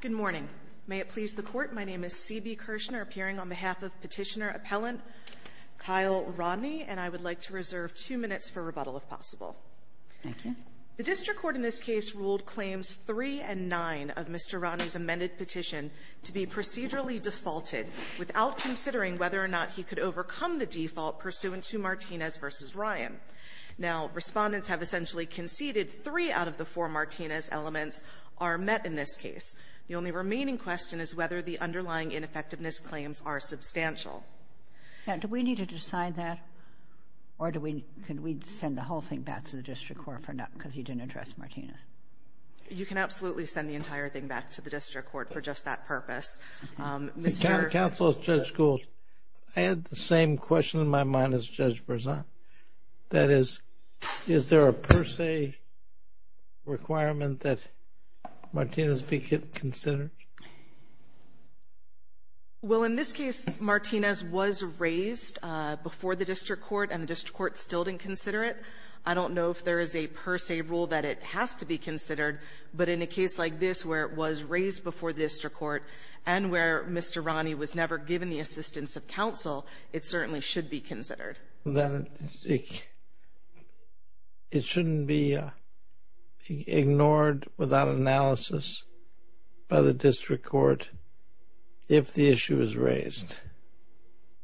Good morning. May it please the Court, my name is C.B. Kirshner, appearing on behalf of Petitioner Appellant Kyle Rodney, and I would like to reserve two minutes for rebuttal, if possible. The district court in this case ruled Claims 3 and 9 of Mr. Rodney's amended petition to be procedurally defaulted without considering whether or not he could overcome the default pursuant to Martinez v. Ryan. Now, Respondents have essentially conceded three out of the four Martinez elements are met in this case. The only remaining question is whether the underlying ineffectiveness claims are substantial. And do we need to decide that, or do we need to send the whole thing back to the district court for not – because you didn't address Martinez? You can absolutely send the entire thing back to the district court for just that purpose. Mr. — Counsel, Judge Gould, I had the same question in my mind as Judge Berzon. That is, is there a per se requirement that Martinez be considered? Well, in this case, Martinez was raised before the district court, and the district court still didn't consider it. I don't know if there is a per se rule that it has to be considered, but in a case like this where it was raised before the district court and where Mr. Rodney was never Then it shouldn't be ignored without analysis by the district court if the issue is raised.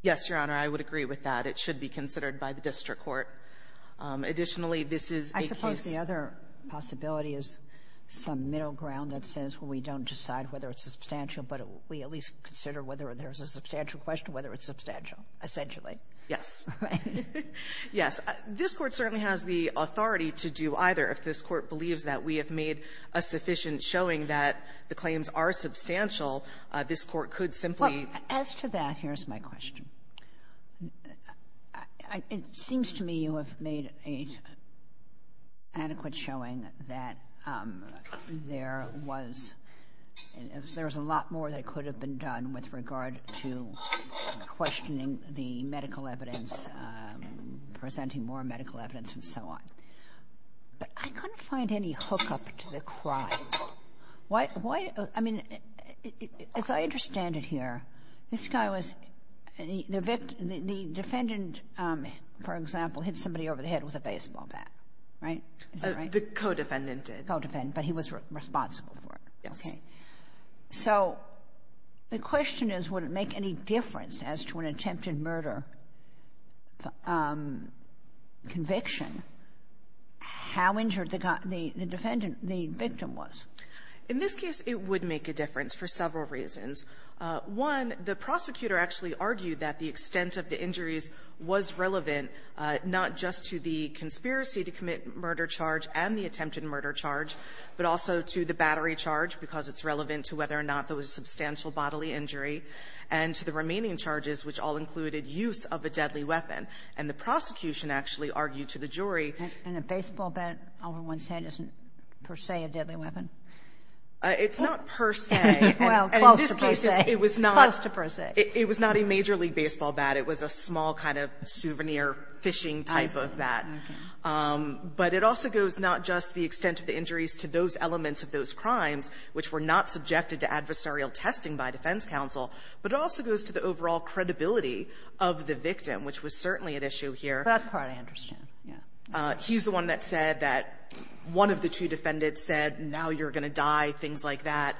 Yes, Your Honor. I would agree with that. It should be considered by the district court. Additionally, this is a case — I suppose the other possibility is some middle ground that says, well, we don't decide whether it's substantial, but we at least consider whether there's a substantial question, whether it's substantial, essentially. Yes. Right. Yes. This Court certainly has the authority to do either. If this Court believes that we have made a sufficient showing that the claims are substantial, this Court could simply — Well, as to that, here's my question. It seems to me you have made an adequate showing that there was — there was a lot more that could have been done with regard to questioning the medical evidence, presenting more medical evidence, and so on. But I couldn't find any hookup to the crime. Why — I mean, as I understand it here, this guy was — the defendant, for example, hit somebody over the head with a baseball bat, right? Is that right? The co-defendant did. Co-defendant. But he was responsible for it. Yes. Okay. So the question is, would it make any difference as to an attempted murder conviction how injured the defendant — the victim was? In this case, it would make a difference for several reasons. One, the prosecutor actually argued that the extent of the injuries was relevant not just to the conspiracy to commit murder charge and the attempted murder charge, but also to the battery charge, because it's relevant to whether or not there was a substantial bodily injury, and to the remaining charges, which all included use of a deadly weapon. And the prosecution actually argued to the jury — And a baseball bat over one's head isn't per se a deadly weapon? It's not per se. Well, close to per se. In this case, it was not — Close to per se. It was not a Major League Baseball bat. It was a small kind of souvenir fishing type of bat. Okay. But it also goes not just the extent of the injuries to those elements of those crimes, which were not subjected to adversarial testing by defense counsel, but it also goes to the overall credibility of the victim, which was certainly at issue here. For that part, I understand. Yeah. He's the one that said that one of the two defendants said, now you're going to die, things like that.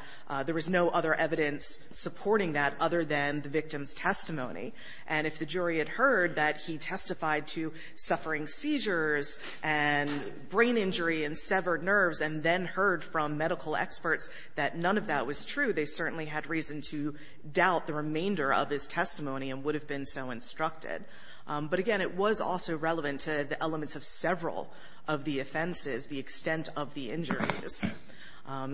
There was no other evidence supporting that other than the victim's testimony. And if the jury had heard that he testified to suffering seizures and brain injury and severed nerves and then heard from medical experts that none of that was true, they certainly had reason to doubt the remainder of his testimony and would have been so instructed. But again, it was also relevant to the elements of several of the offenses, the extent of the injuries.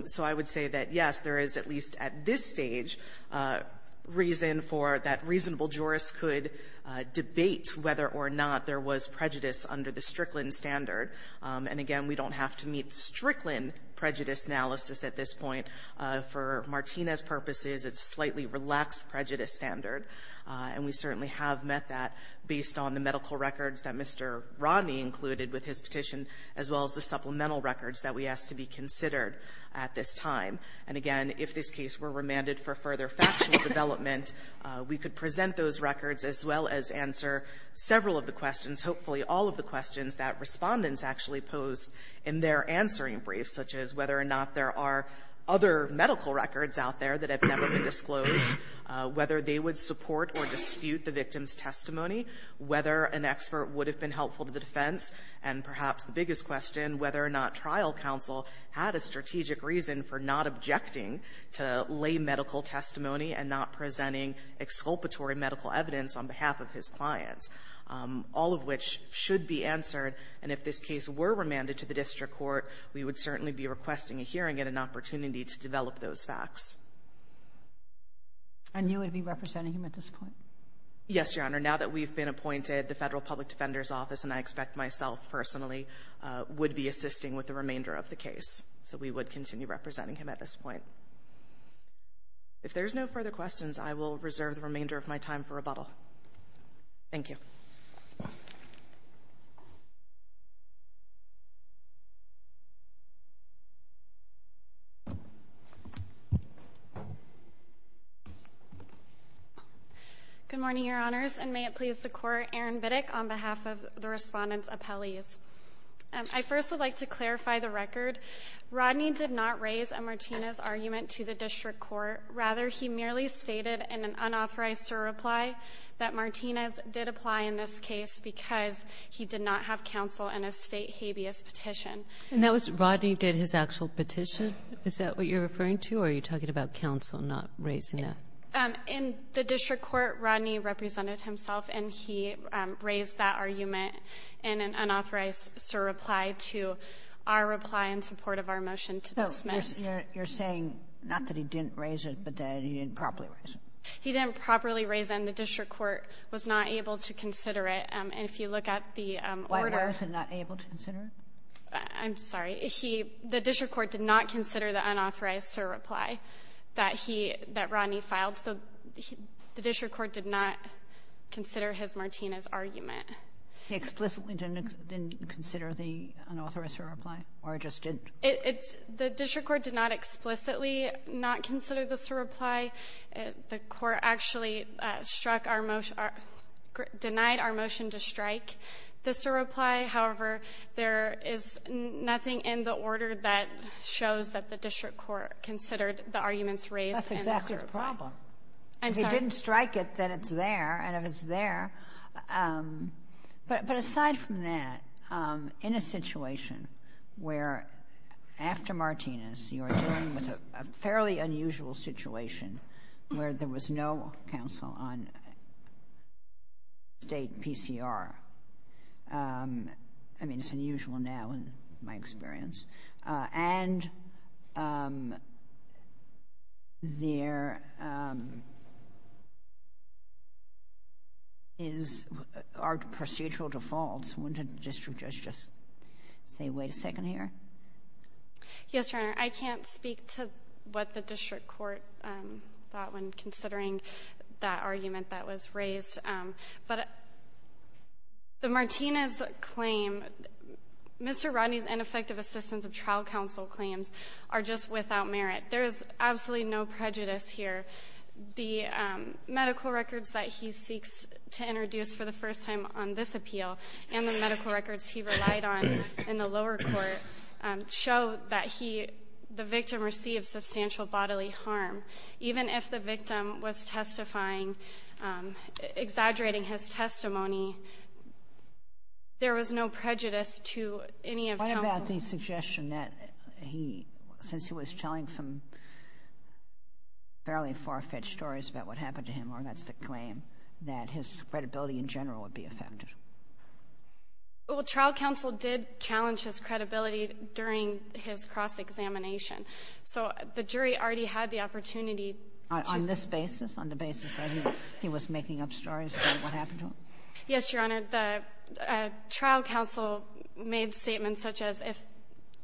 So I would say that, yes, there is at least at this stage reason for that reasonable jurist could debate whether or not there was prejudice under the Strickland standard. And again, we don't have to meet Strickland prejudice analysis at this point. For Martinez's purposes, it's a slightly relaxed prejudice standard. And we certainly have met that based on the medical records that Mr. Rodney included with his petition, as well as the supplemental records that we asked to be considered at this time. And again, if this case were remanded for further factual development, we could present those records as well as answer several of the questions, hopefully all of the questions that Respondents actually pose in their answering briefs, such as whether or not there are other medical records out there that have never been disclosed, whether they would support or dispute the victim's testimony, whether an expert would have been helpful to the defense, and perhaps the biggest question, whether or not trial counsel had a strategic reason for not objecting to lay medical testimony and not presenting exculpatory medical evidence on behalf of his clients, all of which should be answered. And if this case were remanded to the district court, we would certainly be requesting a hearing and an opportunity to develop those facts. And you would be representing him at this point? Yes, Your Honor. Now that we've been appointed, the Federal Public Defender's Office, and I expect myself personally, would be assisting with the remainder of the case. So we would continue representing him at this point. If there's no further questions, I will reserve the remainder of my time for rebuttal. Thank you. Good morning, Your Honors. And may it please the Court, Erin Biddick on behalf of the Respondents' appellees. I first would like to clarify the record. Rodney did not raise a Martinez argument to the district court. Rather, he merely stated in an unauthorized surreply that Martinez did apply in this case because he did not have counsel in a state habeas petition. And that was Rodney did his actual petition? Is that what you're referring to? Or are you talking about counsel not raising that? In the district court, Rodney represented himself, and he raised that argument in an unauthorized surreply to our reply in support of our motion to dismiss. So you're saying not that he didn't raise it, but that he didn't properly raise it? He didn't properly raise it, and the district court was not able to consider it. And if you look at the order — Why was it not able to consider it? I'm sorry. He — the district court did not consider the unauthorized surreply that he — that Rodney filed, so the district court did not consider his Martinez argument. He explicitly didn't consider the unauthorized surreply, or just didn't? It's — the district court did not explicitly not consider the surreply. The court actually struck our — denied our motion to strike the surreply. However, there is nothing in the order that shows that the district court considered the arguments raised in the surreply. That's exactly the problem. I'm sorry. Well, if you strike it, then it's there, and if it's there — but aside from that, in a situation where, after Martinez, you're dealing with a fairly unusual situation where there was no counsel on state PCR — I mean, it's unusual now, in my experience And there is — are procedural defaults. Wouldn't a district judge just say, wait a second here? Yes, Your Honor. I can't speak to what the district court thought when considering that argument that was raised. But the Martinez claim — Mr. Rodney's ineffective assistance of trial counsel claims are just without merit. There is absolutely no prejudice here. The medical records that he seeks to introduce for the first time on this appeal and the medical records he relied on in the lower court show that he — the victim received substantial bodily harm. Even if the victim was testifying — exaggerating his testimony, there was no prejudice to any of counsel — What about the suggestion that he — since he was telling some fairly far-fetched stories about what happened to him, or that's the claim, that his credibility in general would be affected? Well, trial counsel did challenge his credibility during his cross-examination. So the jury already had the opportunity to — On this basis? On the basis that he was making up stories about what happened to him? Yes, Your Honor. The trial counsel made statements such as if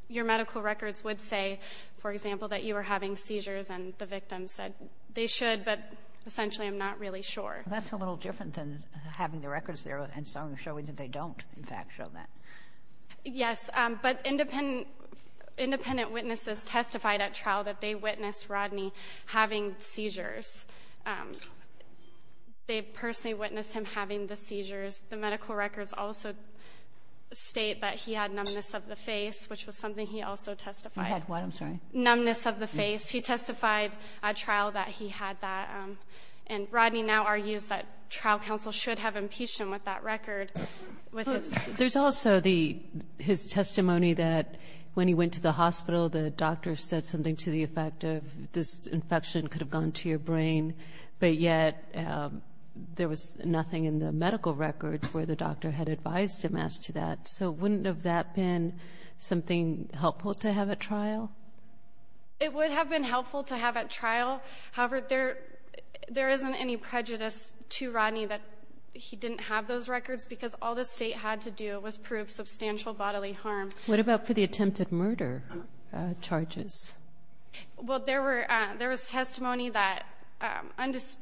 your medical records would say, for example, that you were having seizures, and the victim said they should, but essentially I'm not really sure. That's a little different than having the records there and showing that they don't, in fact, show that. Yes. But independent witnesses testified at trial that they witnessed Rodney having seizures. They personally witnessed him having the seizures. The medical records also state that he had numbness of the face, which was something he also testified. He had what? I'm sorry. Numbness of the face. He testified at trial that he had that. with his — There's also the — his testimony that when he went to the hospital, the doctor said something to the effect of this infection could have gone to your brain, but yet there was nothing in the medical records where the doctor had advised him as to that. So wouldn't have that been something helpful to have at trial? It would have been helpful to have at trial. However, there isn't any prejudice to Rodney that he didn't have those records because all the state had to do was prove substantial bodily harm. What about for the attempted murder charges? Well, there were — there was testimony that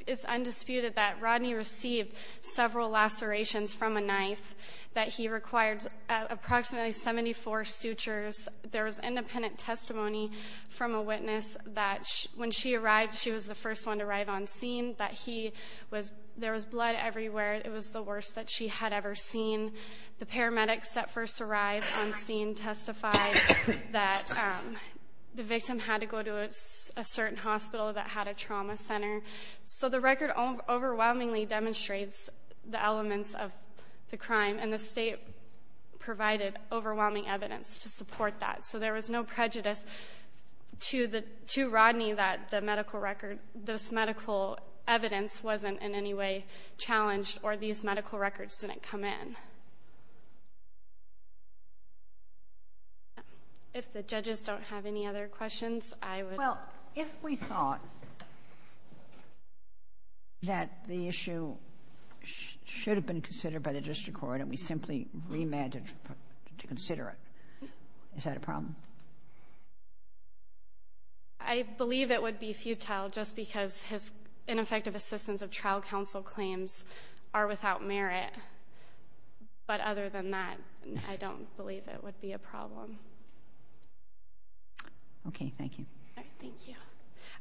is undisputed that Rodney received several lacerations from a knife, that he required approximately 74 sutures. There was independent testimony from a witness that when she arrived, she was the first one to arrive on scene, that he was — there was blood everywhere. It was the worst that she had ever seen. The paramedics that first arrived on scene testified that the victim had to go to a certain hospital that had a trauma center. So the record overwhelmingly demonstrates the elements of the crime, and the state provided overwhelming evidence to support that. So there was no prejudice to the — to Rodney that the medical record — this medical evidence wasn't in any way challenged or these medical records didn't come in. If the judges don't have any other questions, I would — Well, if we thought that the issue should have been considered by the district court and we simply remanded to consider it, is that a problem? I believe it would be futile just because his ineffective assistance of trial counsel claims are without merit. But other than that, I don't believe it would be a problem. Okay. Thank you. All right. Thank you.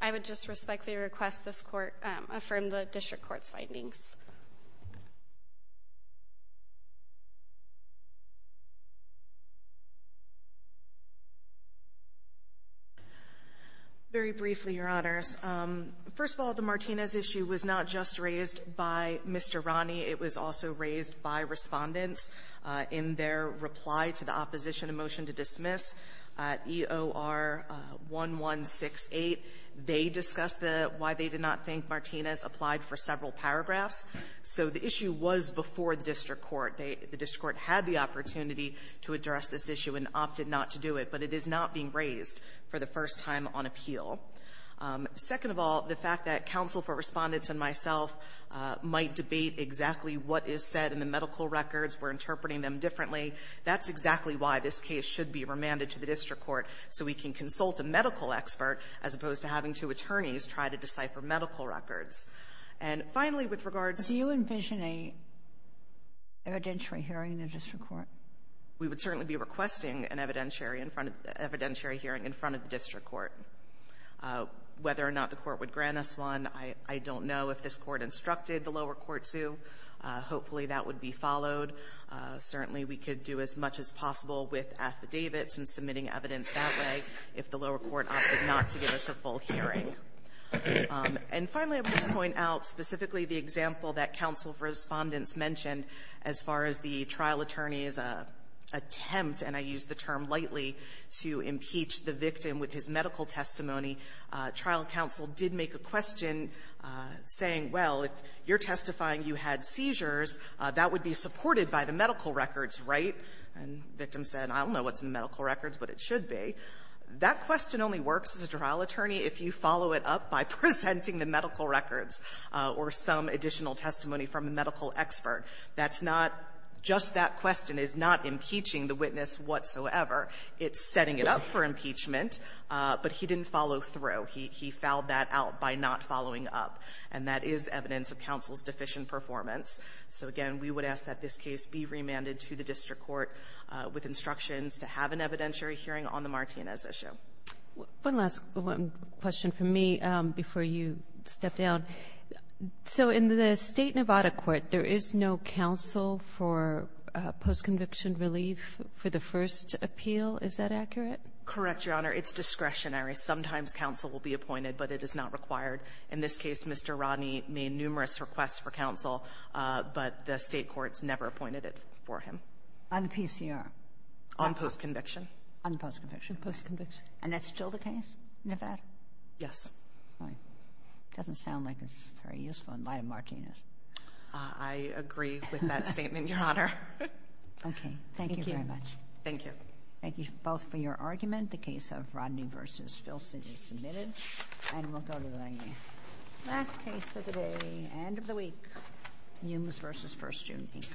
I would just respectfully request this court affirm the district court's findings. Very briefly, Your Honors. First of all, the Martinez issue was not just raised by Mr. Rodney. It was also raised by Respondents in their reply to the opposition, a motion to dismiss EOR-1168. They discussed the — why they did not think Martinez applied for several paragraphs. So the issue was before the district court. They — the district court had the opportunity to address this issue and opted not to do it, but it is not being raised for the first time on appeal. Second of all, the fact that counsel for Respondents and myself might debate exactly what is said in the medical records, we're interpreting them differently, that's exactly why this case should be remanded to the district court so we can consult a medical expert as opposed to having two attorneys try to decipher medical records. And finally, with regards to — Do you envision an evidentiary hearing in the district court? We would certainly be requesting an evidentiary in front of — evidentiary hearing in front of the district court. Whether or not the court would grant us one, I don't know. If this Court instructed the lower court to, hopefully, that would be followed. Certainly, we could do as much as possible with affidavits and submitting evidence that way if the lower court opted not to give us a full hearing. And finally, I would just point out specifically the example that counsel for Respondents mentioned as far as the trial attorney's attempt, and I use the term lightly, to impeach the victim with his medical testimony. Trial counsel did make a question saying, well, if you're testifying you had seizures, that would be supported by the medical records, right? And the victim said, I don't know what's in the medical records, but it should be. That question only works as a trial attorney if you follow it up by presenting the medical records or some additional testimony from a medical expert. That's not — just that question is not impeaching the witness whatsoever. It's setting it up for impeachment, but he didn't follow through. He fouled that out by not following up, and that is evidence of counsel's deficient performance. So again, we would ask that this case be remanded to the district court with instructions to have an evidentiary hearing on the Martinez issue. Kagan. One last question from me before you step down. So in the State Nevada court, there is no counsel for postconviction relief for the first appeal. Is that accurate? Correct, Your Honor. It's discretionary. Sometimes counsel will be appointed, but it is not required. In this case, Mr. Rodney made numerous requests for counsel, but the State courts never appointed it for him. And PCR? On postconviction. On postconviction. On postconviction. And that's still the case in Nevada? Yes. All right. It doesn't sound like it's very useful in light of Martinez. I agree with that statement, Your Honor. Okay. Thank you very much. Thank you. Thank you both for your argument. The case of Rodney v. Filson is submitted, and we'll go to the last case of the day and of the week, Humes v. First Student Inc.